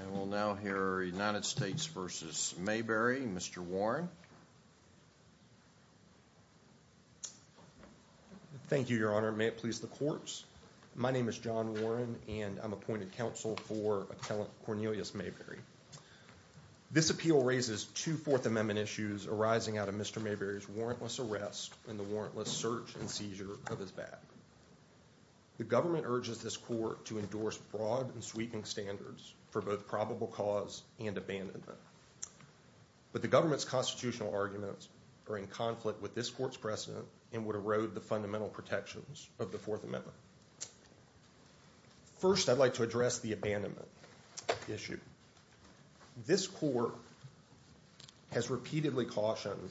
And we'll now hear United States v. Mayberry. Mr. Warren. Thank you, Your Honor. May it please the courts. My name is John Warren and I'm appointed counsel for attellant Cornelius Mayberry. This appeal raises two Fourth Amendment issues arising out of Mr. Mayberry's warrantless arrest and the warrantless search and seizure of his back. The government urges this court to endorse broad and sweeping standards for both probable cause and abandonment. But the government's constitutional arguments are in conflict with this court's precedent and would erode the fundamental protections of the Fourth Amendment. First I'd like to address the abandonment issue. This court has repeatedly cautioned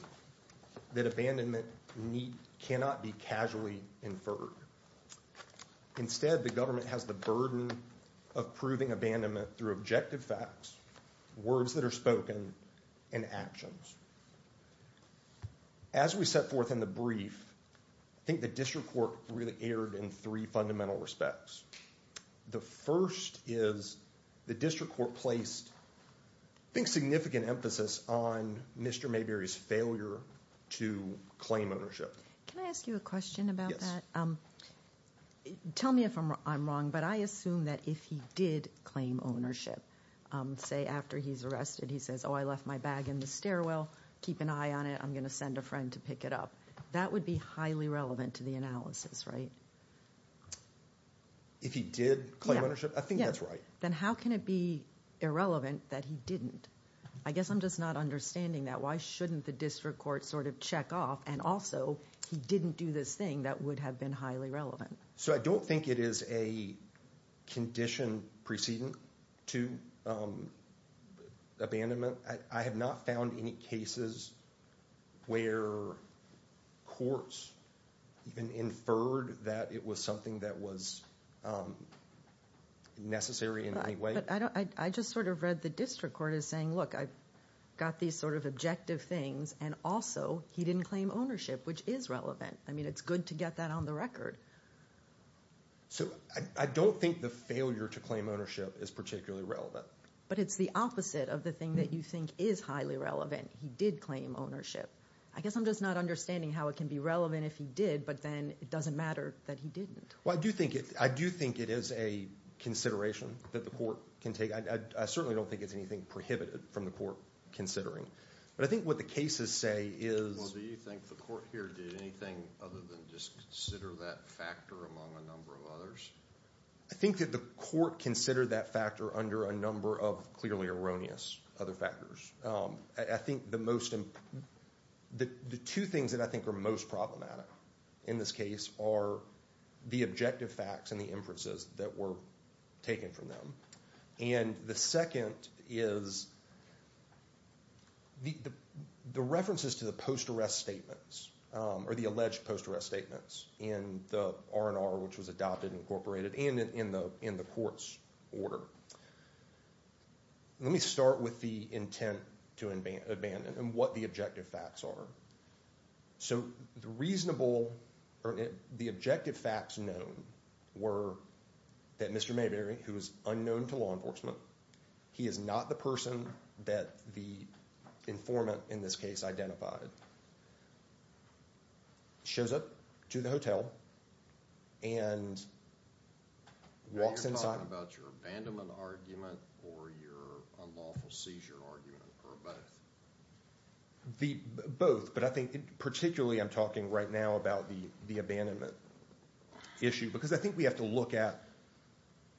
that abandonment need cannot be casually inferred. Instead the government has the burden of proving abandonment through objective facts, words that are spoken, and actions. As we set forth in the brief, I think the district court really erred in three fundamental respects. The first is the district court placed, I think, significant emphasis on Mr. Mayberry's failure to claim ownership. Can I ask you a question about that? Tell me if I'm wrong, but I assume that if he did claim ownership, say after he's arrested, he says, oh I left my bag in the stairwell, keep an eye on it, I'm gonna send a friend to pick it up. That would be highly relevant to the analysis, right? If he did claim ownership, I think that's right. Then how can it be irrelevant that he didn't? I guess I'm just not understanding that. Why shouldn't the district court sort of check off and also he didn't do this thing that would have been highly relevant? So I don't think it is a condition preceding to abandonment. I have not found any cases where courts even inferred that it was something that was necessary in any way. I just sort of read the district court as saying, look, I've got these sort of objective things, and also he didn't claim ownership, which is relevant. I mean, it's good to get that on the record. So I don't think the failure to claim ownership is particularly relevant. But it's the opposite of the thing that you think is highly relevant. He did claim ownership. I guess I'm just not understanding how it can be relevant if he did, but then it doesn't matter that he didn't. Well, I do think it is a consideration that the court can take. I certainly don't think it's anything inhibited from the court considering. But I think what the cases say is... Well, do you think the court here did anything other than just consider that factor among a number of others? I think that the court considered that factor under a number of clearly erroneous other factors. I think the two things that I think are most problematic in this case are the objective facts and the inferences that were taken from them. And the second is the references to the post-arrest statements, or the alleged post-arrest statements, in the R&R, which was adopted and incorporated, and in the court's order. Let me start with the intent to abandon and what the objective facts are. So the reasonable, or the objective facts known were that Mr. Mayberry, who is unknown to law enforcement, he is not the person that the informant in this case identified, shows up to the hotel and walks inside... Are you talking about your abandonment argument or your unlawful seizure argument, or both? Both, but I think particularly I'm talking right now about the abandonment issue, because I think we have to look at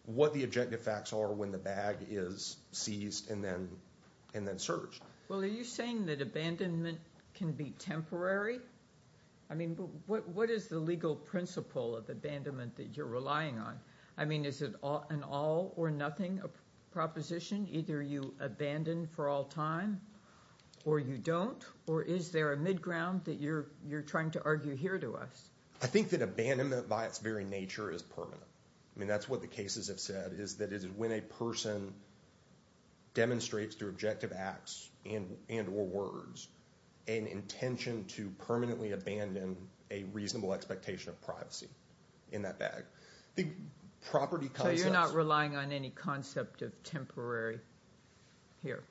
what the objective facts are when the bag is seized and then searched. Well, are you saying that abandonment can be temporary? I mean, what is the legal principle of abandonment that you're relying on? I mean, is it an all-or-nothing proposition? Either you abandon for all time, or you don't, or is there a mid-ground that you're trying to argue here to us? I think that abandonment, by its very nature, is permanent. I mean, that's what the cases have said, is that it is when a person demonstrates through objective acts and or words an intention to permanently abandon a reasonable expectation of privacy in that bag. So you're not relying on any concept of temporary here?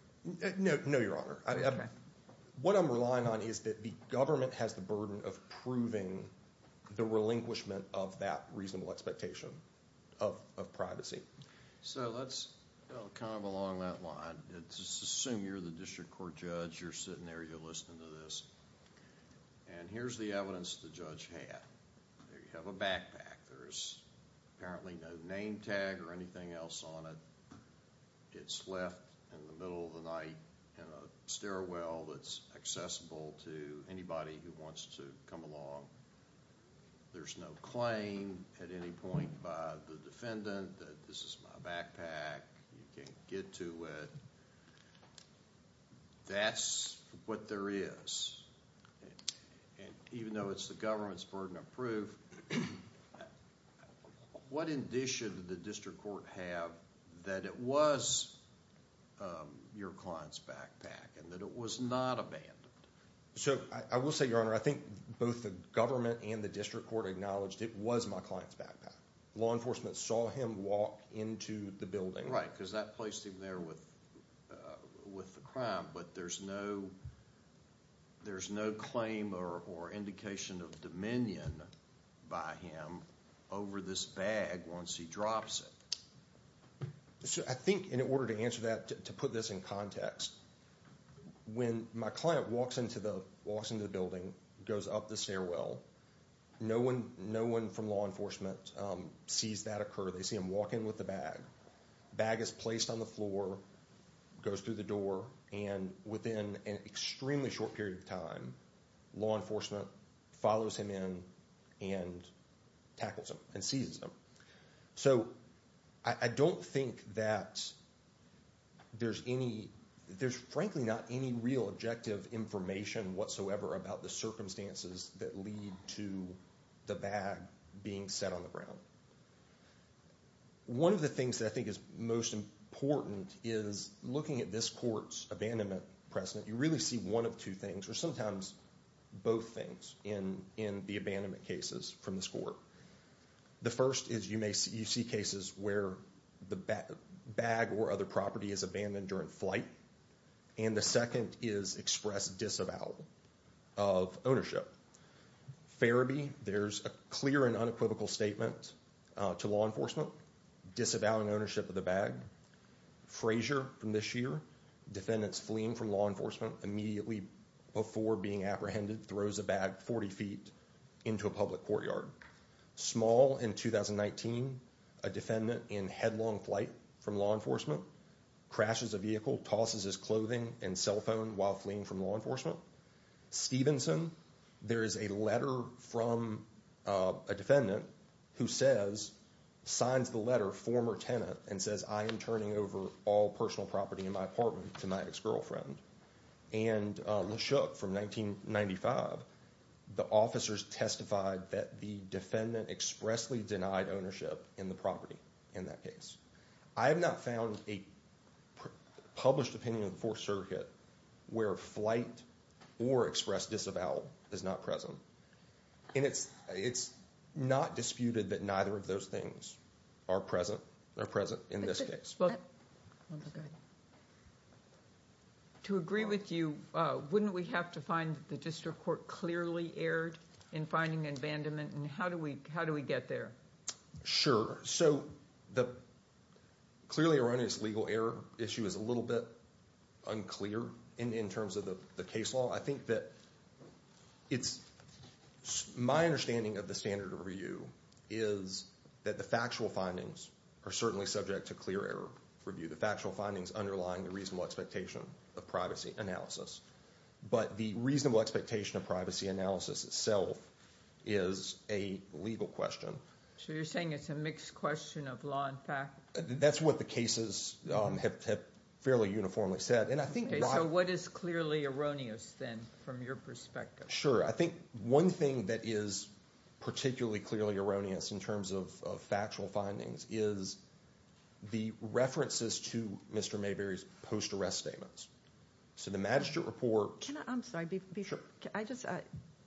No, no, Your Honor. What I'm relying on is that the government has the burden of proving the relinquishment of that reasonable expectation of privacy. So let's kind of along that line. Let's assume you're the district court judge. You're sitting there. You're listening to this, and here's the evidence the judge had. You have a backpack. There's apparently no name tag or anything else on it. It's left in the middle of the room to anybody who wants to come along. There's no claim at any point by the defendant that this is my backpack. You can't get to it. That's what there is, and even though it's the government's burden of proof, what indication did the district court have that it was your client's backpack and that it was not abandoned? So I will say, Your Honor, I think both the government and the district court acknowledged it was my client's backpack. Law enforcement saw him walk into the building. Right, because that placed him there with with the crime, but there's no there's no claim or indication of dominion by him over this bag once he drops it. So I think in order to answer that, to put this in context, when my client walks into the building, goes up the stairwell, no one from law enforcement sees that occur. They see him walk in with the bag. Bag is placed on the floor, goes through the door, and within an extremely short period of time, law enforcement follows him in and tackles him and seizes him. So I don't think that there's any, there's frankly not any real objective information whatsoever about the circumstances that lead to the bag being set on the ground. One of the things that I think is most important is looking at this court's abandonment precedent, you really see one of two things, or sometimes both things, in the abandonment cases from this court. The first is you may see you see cases where the bag or other property is abandoned during flight, and the second is expressed disavowal of ownership. Farabee, there's a clear and unequivocal statement to law enforcement disavowing ownership of the bag. Frazier, from this year, defendants fleeing from law before being apprehended, throws a bag 40 feet into a public courtyard. Small, in 2019, a defendant in headlong flight from law enforcement crashes a vehicle, tosses his clothing and cell phone while fleeing from law enforcement. Stevenson, there is a letter from a defendant who says, signs the letter, former tenant, and says, I am turning over all personal property in my apartment to my ex- I have not found a published opinion of the 4th Circuit where flight or expressed disavowal is not present, and it's it's not disputed that neither of those things are present, are present in this case. To agree with you, wouldn't we have to find the district court clearly erred in finding abandonment, and how do we how do we get there? Sure, so the clearly erroneous legal error issue is a little bit unclear in terms of the case law. I think that it's my understanding of the standard of review is that the factual findings are certainly subject to clear error review. The factual findings underlying the reasonable expectation of privacy analysis, but the reasonable expectation of privacy analysis itself is a legal question. So you're saying it's a mixed question of law and fact? That's what the cases have fairly uniformly said, and I think- So what is clearly erroneous then from your perspective? Sure, I think one thing that is particularly clearly erroneous in terms of factual findings is the references to Mr. Mayberry's post-arrest statements. So the magistrate report- I'm sorry, I just-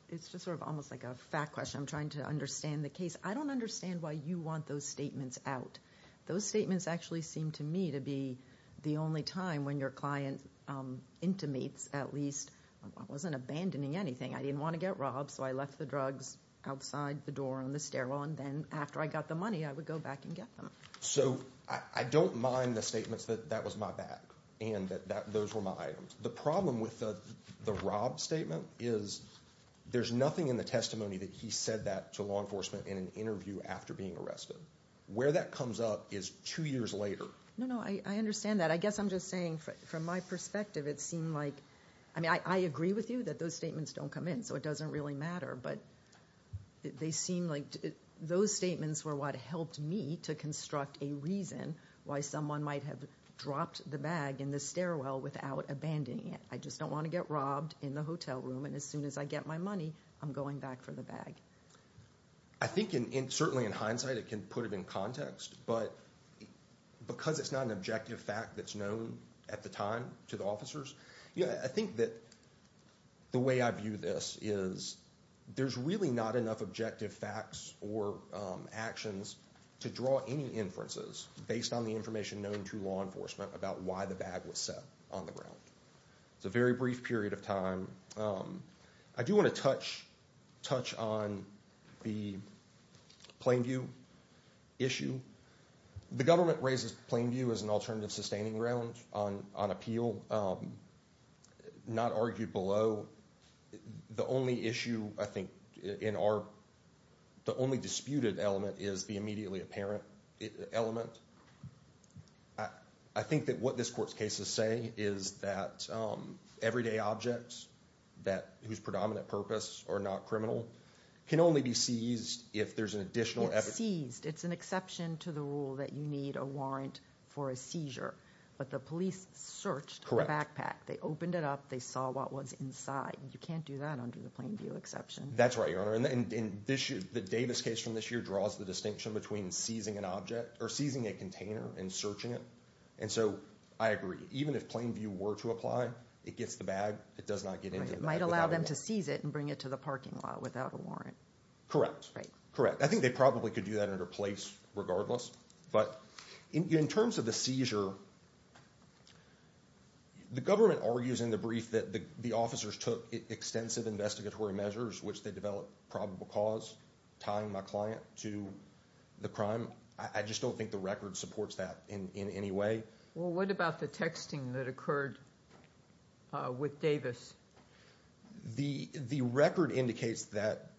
it's just sort of almost like a fact question. I'm trying to understand the case. I don't understand why you want those statements out. Those statements actually seem to me to be the only time when your client intimates at least- I wasn't abandoning anything. I didn't want to get robbed, so I left the drugs outside the door on the stairwell, and then after I got the money, I would go back and get them. So I don't mind the statements that that was my bag, and that those were my items. The problem with the robbed statement is there's nothing in the testimony that he said that to law enforcement in an interview after being arrested. Where that comes up is two years later. No, no, I understand that. I guess I'm just saying from my perspective, it seemed like- I mean, I agree with you that those statements don't come in, so it doesn't really matter, but they seem like those statements were what helped me to construct a reason why someone might have dropped the bag in the stairwell without abandoning it. I just don't want to get robbed in the hotel room, and as soon as I get my money, I'm going back for the bag. I think in- certainly in hindsight, it can put it in context, but because it's not an objective fact that's known at the time to the officers, yeah, I think that the way I view this is there's really not enough objective facts or actions to draw any inferences based on the information known to law enforcement about why the bag was set on the ground. It's a very brief period of time. I do want to touch on the Plainview issue. The government raises Plainview as an alternative sustaining ground on appeal, not argued below. The only issue, I think, in our- the only disputed element is the immediately apparent element. I think that what this court's cases say is that everyday objects that- whose predominant purpose are not criminal, can only be seized if there's an additional evidence. It's seized. It's an exception to the rule that you need a warrant for a seizure, but the police searched the backpack. They opened it up. They saw what was inside. You can't do that under the Plainview exception. That's right, Your Honor, and this- the Davis case from this year draws the distinction between seizing an object or seizing a container and searching it, and so I agree. Even if Plainview were to apply, it gets the bag. It does not get into the bag. It might allow them to seize it and go to the parking lot without a warrant. Correct, correct. I think they probably could do that under place regardless, but in terms of the seizure, the government argues in the brief that the officers took extensive investigatory measures, which they developed probable cause, tying my client to the crime. I just don't think the record supports that in any way. Well, what about the texting that occurred with Davis? The record indicates that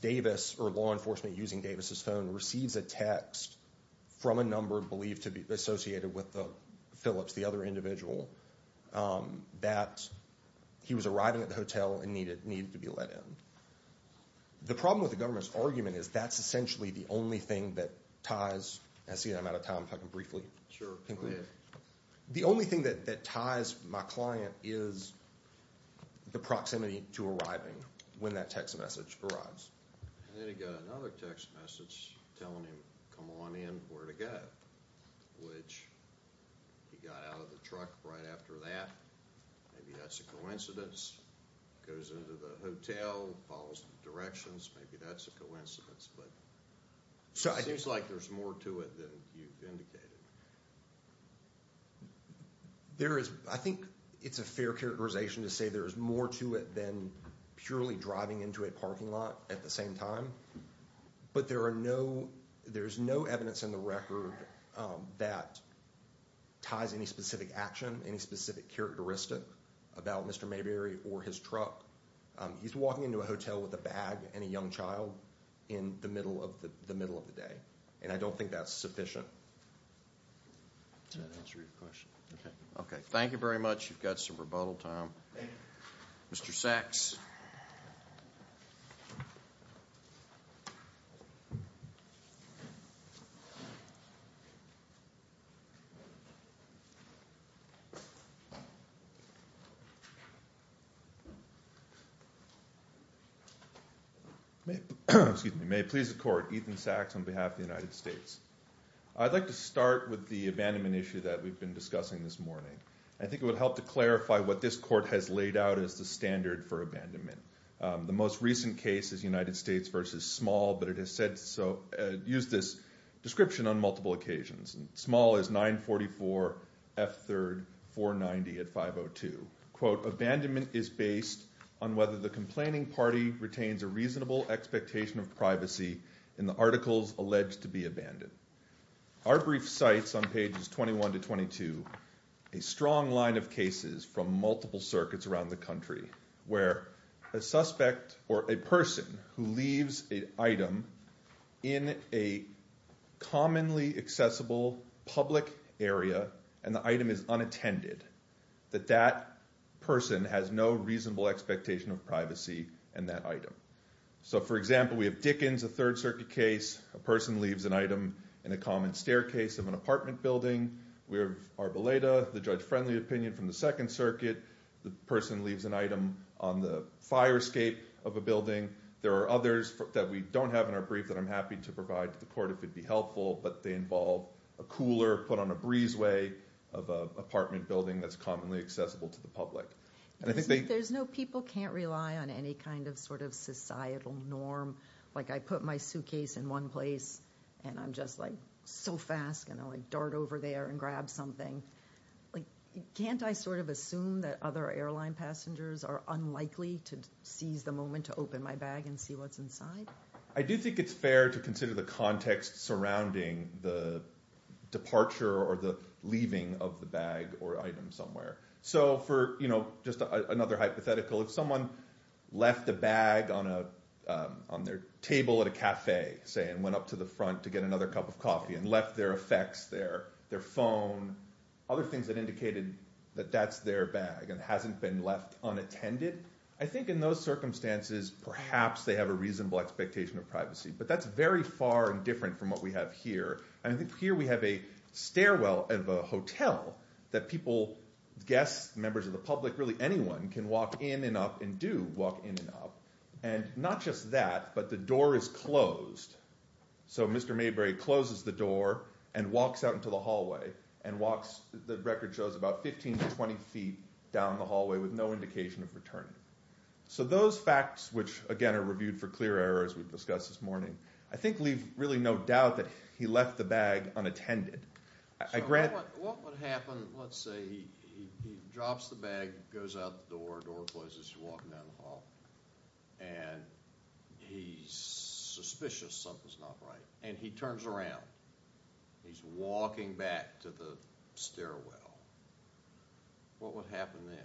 Davis, or law enforcement using Davis's phone, receives a text from a number believed to be associated with the Phillips, the other individual, that he was arriving at the hotel and needed needed to be let in. The problem with the government's argument is that's essentially the only thing that ties- I see I'm out of time, if I can briefly conclude- the only thing that ties my client is the proximity to arriving when that text message arrives. And then he got another text message telling him, come on in, where to go, which he got out of the truck right after that. Maybe that's a coincidence. Goes into the hotel, follows the directions, maybe that's a There is, I think it's a fair characterization to say there's more to it than purely driving into a parking lot at the same time. But there are no, there's no evidence in the record that ties any specific action, any specific characteristic about Mr. Mayberry or his truck. He's walking into a hotel with a bag and a young child in the middle of the middle of the day, and I don't think that's sufficient. Does that answer your question? Okay, thank you very much. You've got some rebuttal time. Mr. Sachs. May it please the court, Ethan Sachs on behalf of the United States. I'd like to start with the abandonment issue that we've been discussing this morning. I think it would help to clarify what this court has laid out as the standard for abandonment. The most recent case is United States v. Small, but it has said so, used this description on multiple occasions. Small is 944 F3rd 490 at 502. Quote, abandonment is based on whether the complaining party retains a reasonable expectation of privacy in the articles alleged to be abandoned. Our brief cites on pages 21 to 22 a strong line of cases from multiple circuits around the country where a suspect or a person who leaves an item in a commonly accessible public area and the item is unattended, that that person has no reasonable expectation of privacy in that item. So, for example, we have Dickens, a 3rd Circuit case, a person leaves an item in a common staircase of an apartment building. We have Arboleda, the judge-friendly opinion from the 2nd Circuit, the person leaves an item on the fire escape of a building. There are others that we don't have in our brief that I'm happy to provide to the court if it would be helpful, but they involve a cooler put on a breezeway of an apartment building that's commonly accessible to the public. There's no people can't rely on any kind of sort of societal norm. Like, I put my suitcase in one place and I'm just like so fast and only dart over there and grab something. Can't I sort of assume that other airline passengers are unlikely to seize the moment to open my bag and see what's inside? I do think it's fair to consider the context surrounding the departure or the leaving of the bag or item somewhere. So for, you know, just another hypothetical, if someone left a bag on their table at a cafe, say, and went up to the front to get another cup of coffee and left their effects there, their phone, other things that indicated that that's their bag and hasn't been left unattended. I think in those circumstances, perhaps they have a reasonable expectation of privacy, but that's very far and different from what we have here. I think here we have a stairwell of a hotel that people, guests, members of the public, really anyone can walk in and up and do walk in and up. And not just that, but the door is closed. So Mr. Mayberry closes the door and walks out into the hallway and walks, the record shows, about 15 to 20 feet down the hallway with no indication of returning. So those facts, which again are reviewed for clear error, as we've discussed this morning, I think leave really no doubt that he left the bag unattended. So what would happen, let's say he drops the bag, goes out the door, door closes, you're walking down the hall, and he's suspicious something's not right, and he turns around, he's walking back to the stairwell. What would happen then?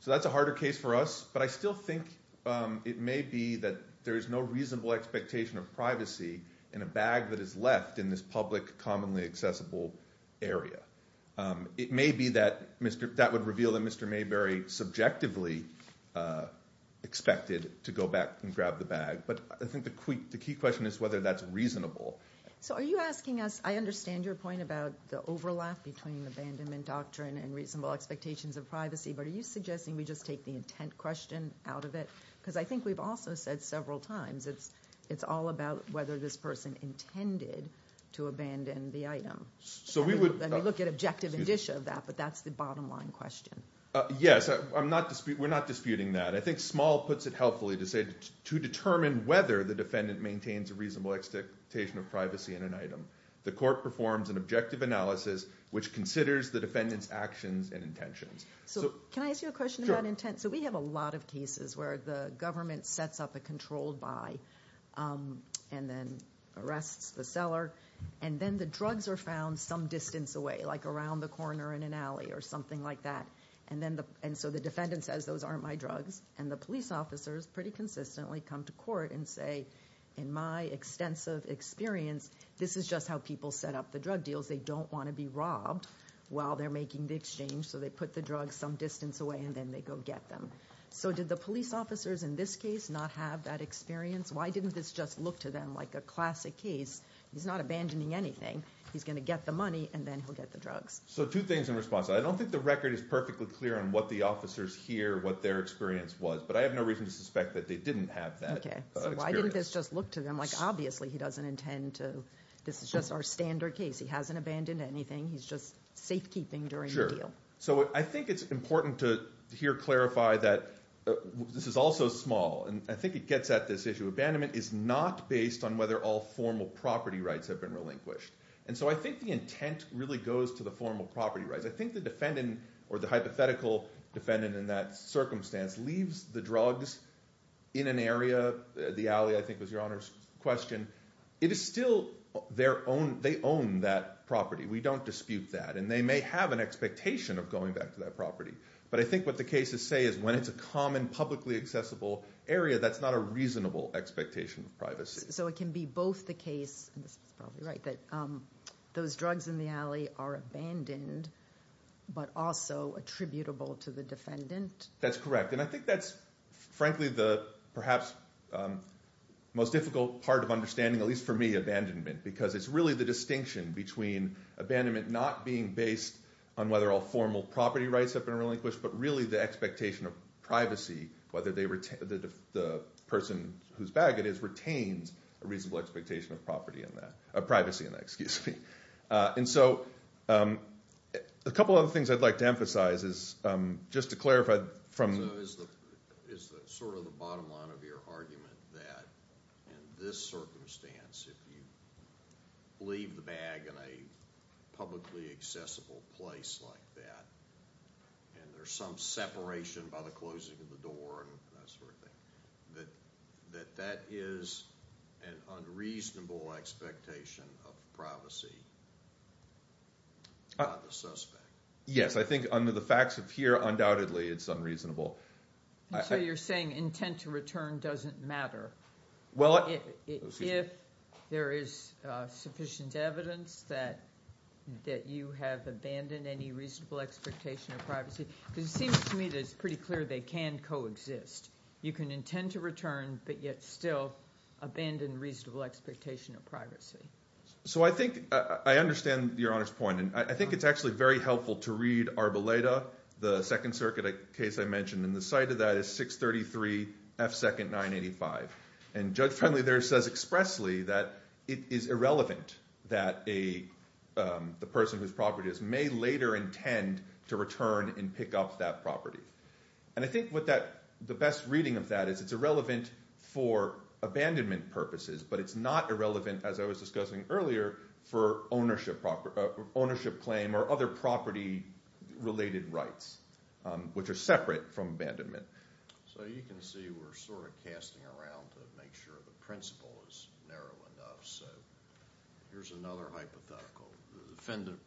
So that's a harder case for us, but I still think it may be that there is no reasonable expectation of privacy in a bag that is left in this public, commonly accessible area. It may be that that would reveal that Mr. Mayberry subjectively expected to go back and grab the bag, but I think the key question is whether that's reasonable. So are you asking us, I understand your point about the overlap between abandonment doctrine and reasonable expectations of privacy, but are you suggesting we just take the intent question out of it? Because I think we've also said several times it's all about whether this person intended to abandon the item. So we would And we look at objective indicia of that, but that's the bottom line question. Yes, we're not disputing that. I think Small puts it helpfully to say to determine whether the defendant maintains a reasonable expectation of privacy in an item. The court performs an objective analysis which considers the defendant's actions and intentions. So can I ask you a question about intent? So we have a lot of cases where the government sets up a controlled buy and then arrests the seller, and then the drugs are found some distance away, like around the corner in an alley or something like that. And so the defendant says, those aren't my drugs, and the police officers pretty consistently come to court and say, in my extensive experience, this is just how people set up the drug deals. They don't want to be robbed while they're making the exchange, so they put the drugs some distance away, and then they go get them. So did the police officers in this case not have that experience? Why didn't this just look to them like a classic case? He's not abandoning anything. He's going to get the money, and then he'll get the drugs. So two things in response. I don't think the record is perfectly clear on what the officers hear, what their experience was, but I have no reason to suspect that they didn't have that experience. So why didn't this just look to them like, obviously he doesn't intend to, this is just our standard case. He hasn't abandoned anything. He's just safekeeping during the deal. So I think it's important to here clarify that this is also small, and I think it gets at this issue. Abandonment is not based on whether all formal property rights have been relinquished. And so I think the intent really goes to the formal property rights. I think the defendant, or the hypothetical defendant in that circumstance, leaves the drugs in an area, the alley I think was your Honor's question. It is still their own, they own that property. We don't dispute that, and they may have an expectation of going back to that property. But I think what the cases say is when it's a common publicly accessible area, that's not a reasonable expectation of privacy. So it can be both the case, and this is probably right, that those drugs in the alley are abandoned, but also attributable to the defendant? That's correct, and I think that's frankly the perhaps most difficult part of understanding, at least for me, abandonment. Because it's really the distinction between abandonment not being based on whether all formal property rights have been relinquished, but really the expectation of privacy, whether the person whose bag it is retains a reasonable expectation of privacy in that. And so a couple of other things I'd like to emphasize is just to clarify. So is sort of the bottom line of your argument that in this circumstance, if you leave the bag in a publicly accessible place like that, and there's some separation by the closing of the door and that sort of thing, that that is an unreasonable expectation of privacy by the suspect? Yes, I think under the facts of here, undoubtedly it's unreasonable. And so you're saying intent to return doesn't matter? Well, excuse me. If there is sufficient evidence that you have abandoned any reasonable expectation of privacy. Because it seems to me that it's pretty clear they can coexist. You can intend to return, but yet still abandon reasonable expectation of privacy. So I think I understand Your Honor's point, and I think it's actually very helpful to read Arboleda, the Second Circuit case I mentioned, and the site of that is 633 F. 2nd. 985. And Judge Friendly there says expressly that it is irrelevant that the person whose property it is may later intend to return and pick up that property. And I think the best reading of that is it's irrelevant for abandonment purposes, but it's not irrelevant, as I was discussing earlier, for ownership claim or other property-related rights, which are separate from abandonment. So you can see we're sort of casting around to make sure the principle is narrow enough. So here's another hypothetical. The defendant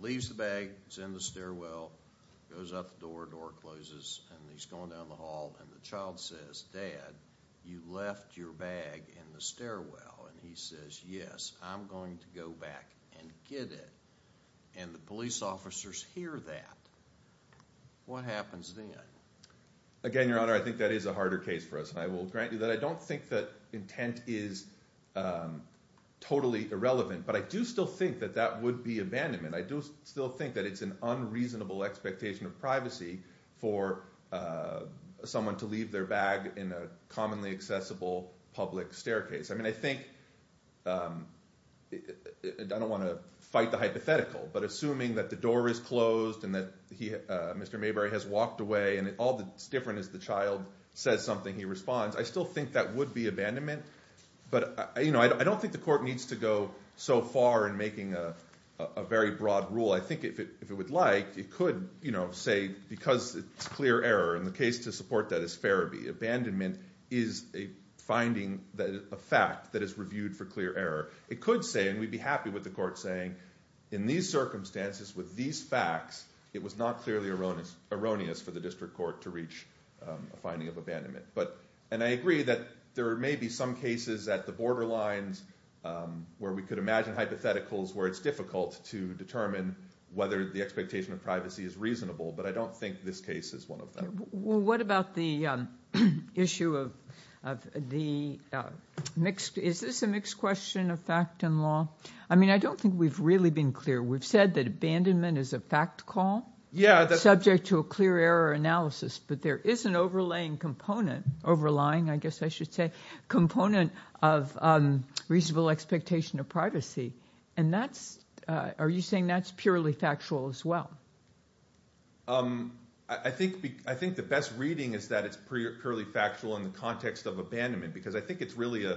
leaves the bag, it's in the stairwell, goes out the door, door closes, and he's going down the hall. And the child says, Dad, you left your bag in the stairwell. And he says, yes, I'm going to go back and get it. And the police officers hear that. What happens then? Again, Your Honor, I think that is a harder case for us, and I will grant you that. I don't think that intent is totally irrelevant, but I do still think that that would be abandonment. I do still think that it's an unreasonable expectation of privacy for someone to leave their bag in a commonly accessible public staircase. I mean, I think – I don't want to fight the hypothetical, but assuming that the door is closed and that Mr. Mayberry has walked away and all that's different is the child says something, he responds, I still think that would be abandonment. But I don't think the court needs to go so far in making a very broad rule. I think if it would like, it could say, because it's clear error, and the case to support that is Farabi, abandonment is a finding, a fact that is reviewed for clear error. It could say, and we'd be happy with the court saying, in these circumstances, with these facts, it was not clearly erroneous for the district court to reach a finding of abandonment. And I agree that there may be some cases at the borderlines where we could imagine hypotheticals where it's difficult to determine whether the expectation of privacy is reasonable, but I don't think this case is one of them. What about the issue of the – is this a mixed question of fact and law? I mean, I don't think we've really been clear. We've said that abandonment is a fact call subject to a clear error analysis, but there is an overlaying component – overlying, I guess I should say – component of reasonable expectation of privacy. And that's – are you saying that's purely factual as well? I think the best reading is that it's purely factual in the context of abandonment because I think it's really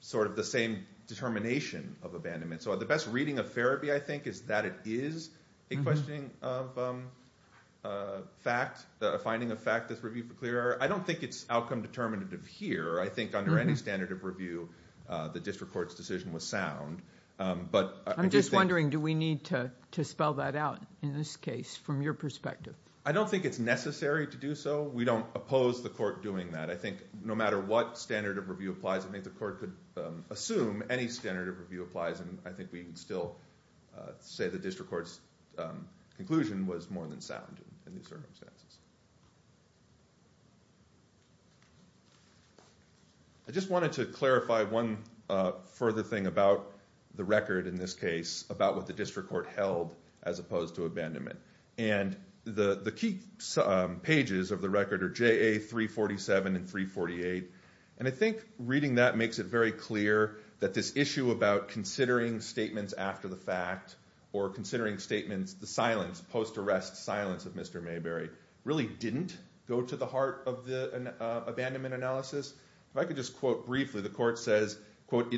sort of the same determination of abandonment. So the best reading of Farabi, I think, is that it is a questioning of fact – a finding of fact that's reviewed for clear error. I don't think it's outcome determinative here. I think under any standard of review, the district court's decision was sound. But I just think – I'm just wondering, do we need to spell that out in this case from your perspective? I don't think it's necessary to do so. We don't oppose the court doing that. I think no matter what standard of review applies, I think the court could assume any standard of review applies, and I think we would still say the district court's conclusion was more than sound in these circumstances. I just wanted to clarify one further thing about the record in this case about what the district court held as opposed to abandonment. The key pages of the record are JA 347 and 348, and I think reading that makes it very clear that this issue about considering statements after the fact or considering statements – the silence, post-arrest silence of Mr. Mayberry really didn't go to the heart of the abandonment analysis. If I could just quote briefly, the court says, quote,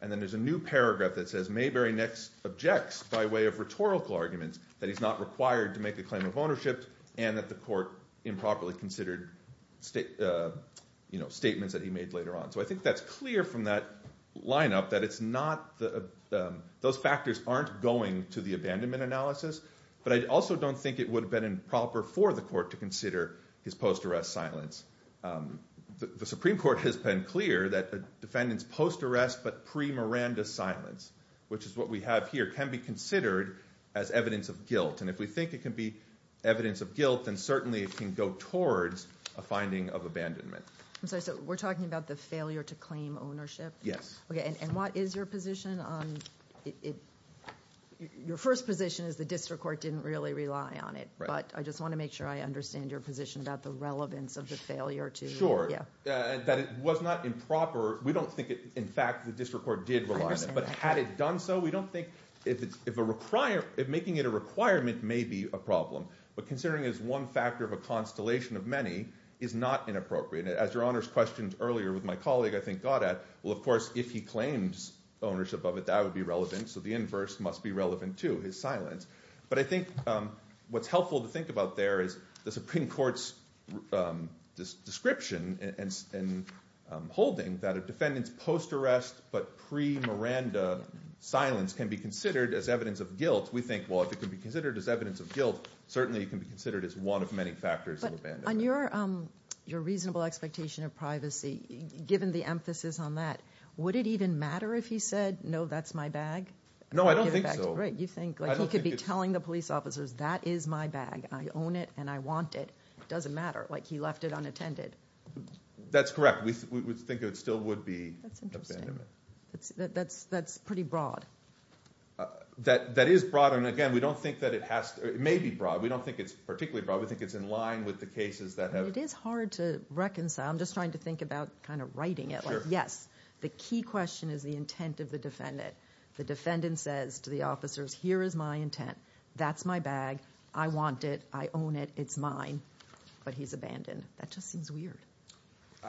And then there's a new paragraph that says, So I think that's clear from that lineup that it's not – those factors aren't going to the abandonment analysis, but I also don't think it would have been improper for the court to consider his post-arrest silence. The Supreme Court has been clear that a defendant's post-arrest but pre-Miranda silence, which is what we have here, can be considered as evidence of guilt, and if we think it can be evidence of guilt, then certainly it can go towards a finding of abandonment. I'm sorry, so we're talking about the failure to claim ownership? Yes. Okay, and what is your position on – your first position is the district court didn't really rely on it, but I just want to make sure I understand your position about the relevance of the failure to – Sure, that it was not improper. We don't think, in fact, the district court did rely on it, but had it done so, we don't think – if making it a requirement may be a problem, but considering it as one factor of a constellation of many is not inappropriate. As Your Honor's question earlier with my colleague, I think, got at, well, of course, if he claims ownership of it, that would be relevant, so the inverse must be relevant, too, his silence. But I think what's helpful to think about there is the Supreme Court's description and holding that a defendant's post-arrest but pre-Miranda silence can be considered as evidence of guilt. We think, well, if it can be considered as evidence of guilt, certainly it can be considered as one of many factors of abandonment. But on your reasonable expectation of privacy, given the emphasis on that, would it even matter if he said, no, that's my bag? No, I don't think so. You think he could be telling the police officers, that is my bag, I own it and I want it. It doesn't matter. Like he left it unattended. That's correct. We think it still would be abandonment. That's interesting. That's pretty broad. That is broad. And, again, we don't think that it has to – it may be broad. We don't think it's particularly broad. We think it's in line with the cases that have – It is hard to reconcile. I'm just trying to think about kind of writing it. Like, yes, the key question is the intent of the defendant. The defendant says to the officers, here is my intent. That's my bag. I want it. I own it. It's mine. But he's abandoned. That just seems weird.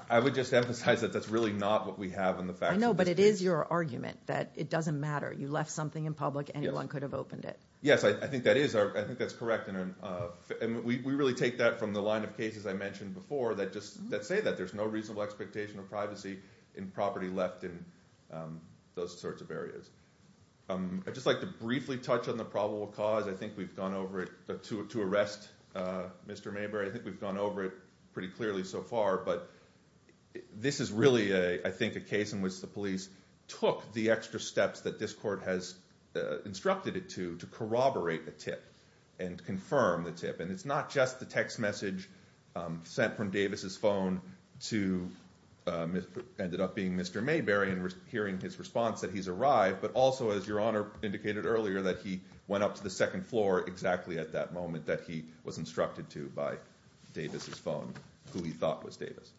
I would just emphasize that that's really not what we have in the facts. I know, but it is your argument that it doesn't matter. You left something in public. Anyone could have opened it. Yes, I think that is. I think that's correct. And we really take that from the line of cases I mentioned before that say that. There's no reasonable expectation of privacy in property left in those sorts of areas. I'd just like to briefly touch on the probable cause. I think we've gone over it to arrest Mr. Mayberry. I think we've gone over it pretty clearly so far. But this is really, I think, a case in which the police took the extra steps that this court has instructed it to to corroborate a tip and confirm the tip. And it's not just the text message sent from Davis' phone to what ended up being Mr. Mayberry and hearing his response that he's arrived, but also, as Your Honor indicated earlier, that he went up to the second floor exactly at that moment that he was instructed to by Davis' phone, who he thought was Davis.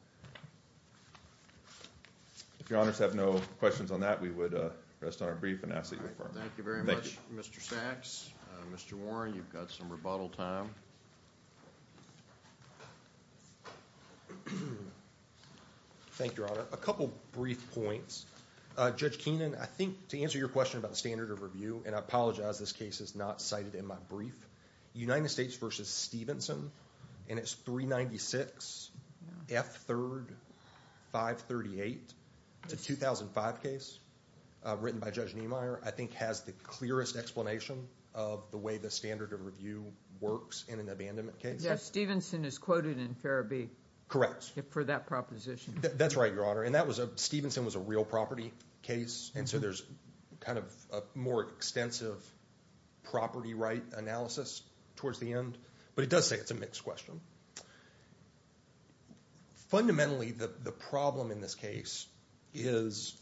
If Your Honors have no questions on that, we would rest on our brief and ask that you affirm it. Thank you very much, Mr. Sachs. Mr. Warren, you've got some rebuttal time. Thank you, Your Honor. A couple brief points. Judge Keenan, I think to answer your question about the standard of review, and I apologize this case is not cited in my brief, United States v. Stevenson in its 396 F. 3rd 538 to 2005 case written by Judge Niemeyer, I think has the clearest explanation of the way the standard of review works in an abandonment case. Yes, Stevenson is quoted in Farrabee. Correct. For that proposition. That's right, Your Honor, and Stevenson was a real property case, and so there's kind of a more extensive property right analysis towards the end, but it does say it's a mixed question. Fundamentally, the problem in this case is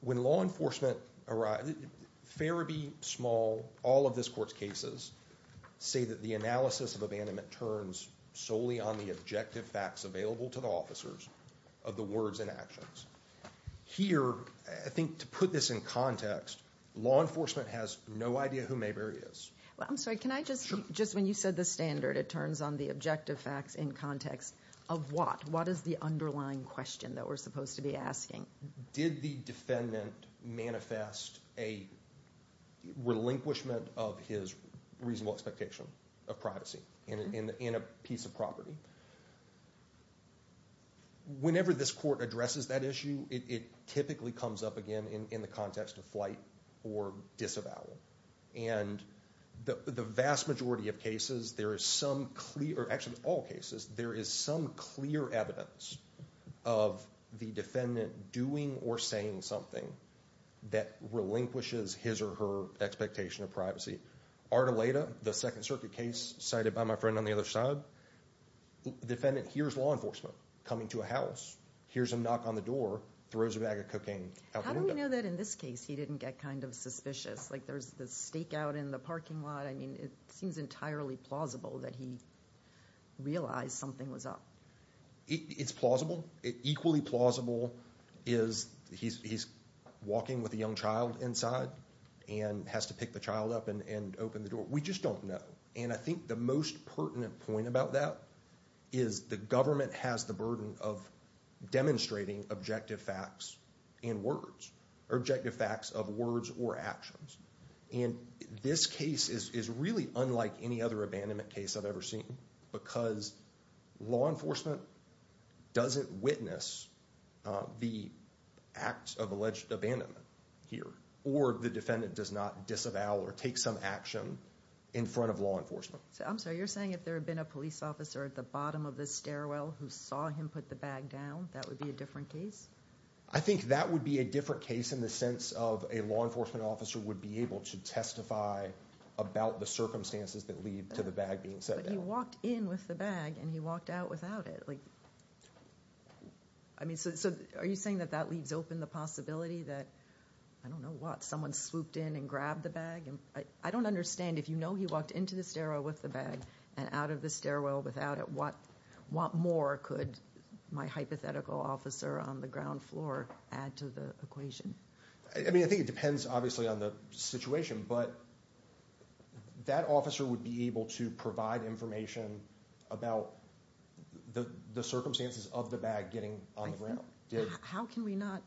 when law enforcement arrives, Farrabee, Small, all of this court's cases say that the analysis of abandonment turns solely on the objective facts available to the officers of the words and actions. Here, I think to put this in context, law enforcement has no idea who Mayberry is. I'm sorry. Can I just, just when you said the standard, it turns on the objective facts in context of what? What is the underlying question that we're supposed to be asking? Did the defendant manifest a relinquishment of his reasonable expectation of privacy in a piece of property? Whenever this court addresses that issue, it typically comes up again in the context of flight or disavowal, and the vast majority of cases, there is some clear, actually all cases, there is some clear evidence of the defendant doing or saying something that relinquishes his or her expectation of privacy. Ardoleda, the Second Circuit case cited by my friend on the other side, the defendant hears law enforcement coming to a house, hears them knock on the door, throws a bag of cocaine out the window. How do we know that in this case he didn't get kind of suspicious? Like there's this stakeout in the parking lot. I mean, it seems entirely plausible that he realized something was up. It's plausible. Equally plausible is he's walking with a young child inside and has to pick the child up and open the door. We just don't know, and I think the most pertinent point about that is the government has the burden of demonstrating objective facts in words, objective facts of words or actions, and this case is really unlike any other abandonment case I've ever seen because law enforcement doesn't witness the act of alleged abandonment here or the defendant does not disavow or take some action in front of law enforcement. I'm sorry. You're saying if there had been a police officer at the bottom of the stairwell who saw him put the bag down, that would be a different case? I think that would be a different case in the sense of a law enforcement officer would be able to testify about the circumstances that lead to the bag being set down. But he walked in with the bag and he walked out without it. Are you saying that that leaves open the possibility that, I don't know what, someone swooped in and grabbed the bag? I don't understand. If you know he walked into the stairwell with the bag and out of the stairwell without it, what more could my hypothetical officer on the ground floor add to the equation? I think it depends obviously on the situation, but that officer would be able to provide information about the circumstances of the bag getting on the ground. How can we not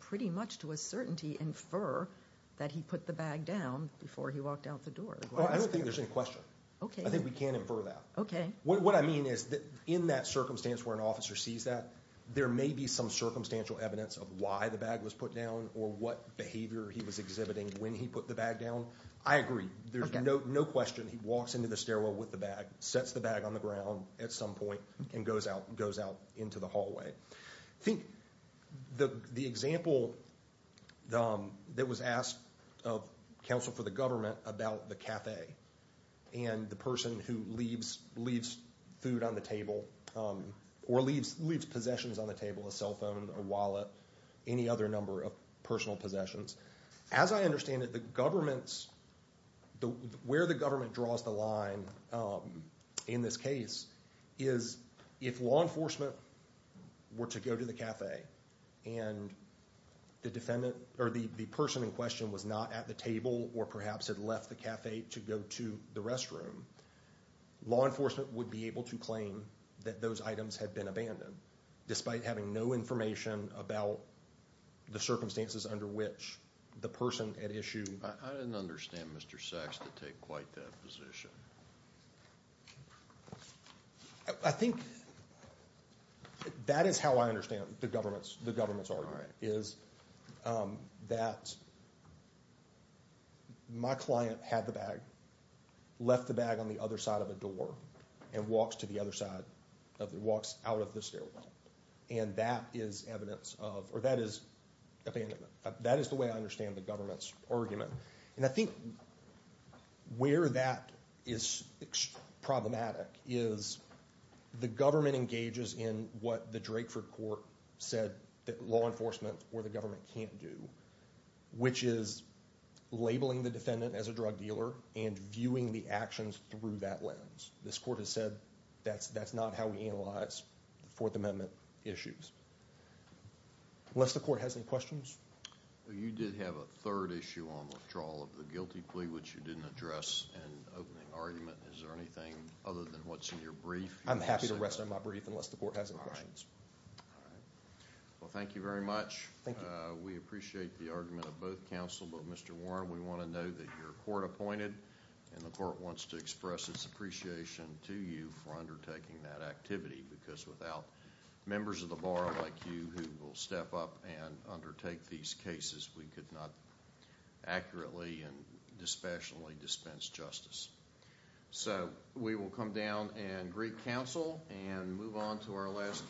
pretty much to a certainty infer that he put the bag down before he walked out the door? I don't think there's any question. I think we can infer that. What I mean is in that circumstance where an officer sees that, there may be some circumstantial evidence of why the bag was put down or what behavior he was exhibiting when he put the bag down. I agree. There's no question he walks into the stairwell with the bag, sets the bag on the ground at some point, and goes out into the hallway. I think the example that was asked of counsel for the government about the café and the person who leaves food on the table or leaves possessions on the table, a cell phone, a wallet, any other number of personal possessions. As I understand it, where the government draws the line in this case is if law enforcement were to go to the café and the person in question was not at the table or perhaps had left the café to go to the restroom, law enforcement would be able to claim that those items had been abandoned, despite having no information about the circumstances under which the person at issue. I didn't understand Mr. Sachs to take quite that position. I think that is how I understand the government's argument. My client had the bag, left the bag on the other side of the door, and walks out of the stairwell. That is the way I understand the government's argument. I think where that is problematic is the government engages in what the Drakeford court said that law enforcement or the government can't do, which is labeling the defendant as a drug dealer and viewing the actions through that lens. This court has said that is not how we analyze the Fourth Amendment issues. Unless the court has any questions? You did have a third issue on withdrawal of the guilty plea, which you didn't address in opening argument. Is there anything other than what is in your brief? I'm happy to rest on my brief unless the court has any questions. Thank you very much. We appreciate the argument of both counsel. Mr. Warren, we want to know that you're court-appointed. The court wants to express its appreciation to you for undertaking that activity because without members of the bar like you who will step up and undertake these cases, we could not accurately and dispassionately dispense justice. We will come down and greet counsel and move on to our last case.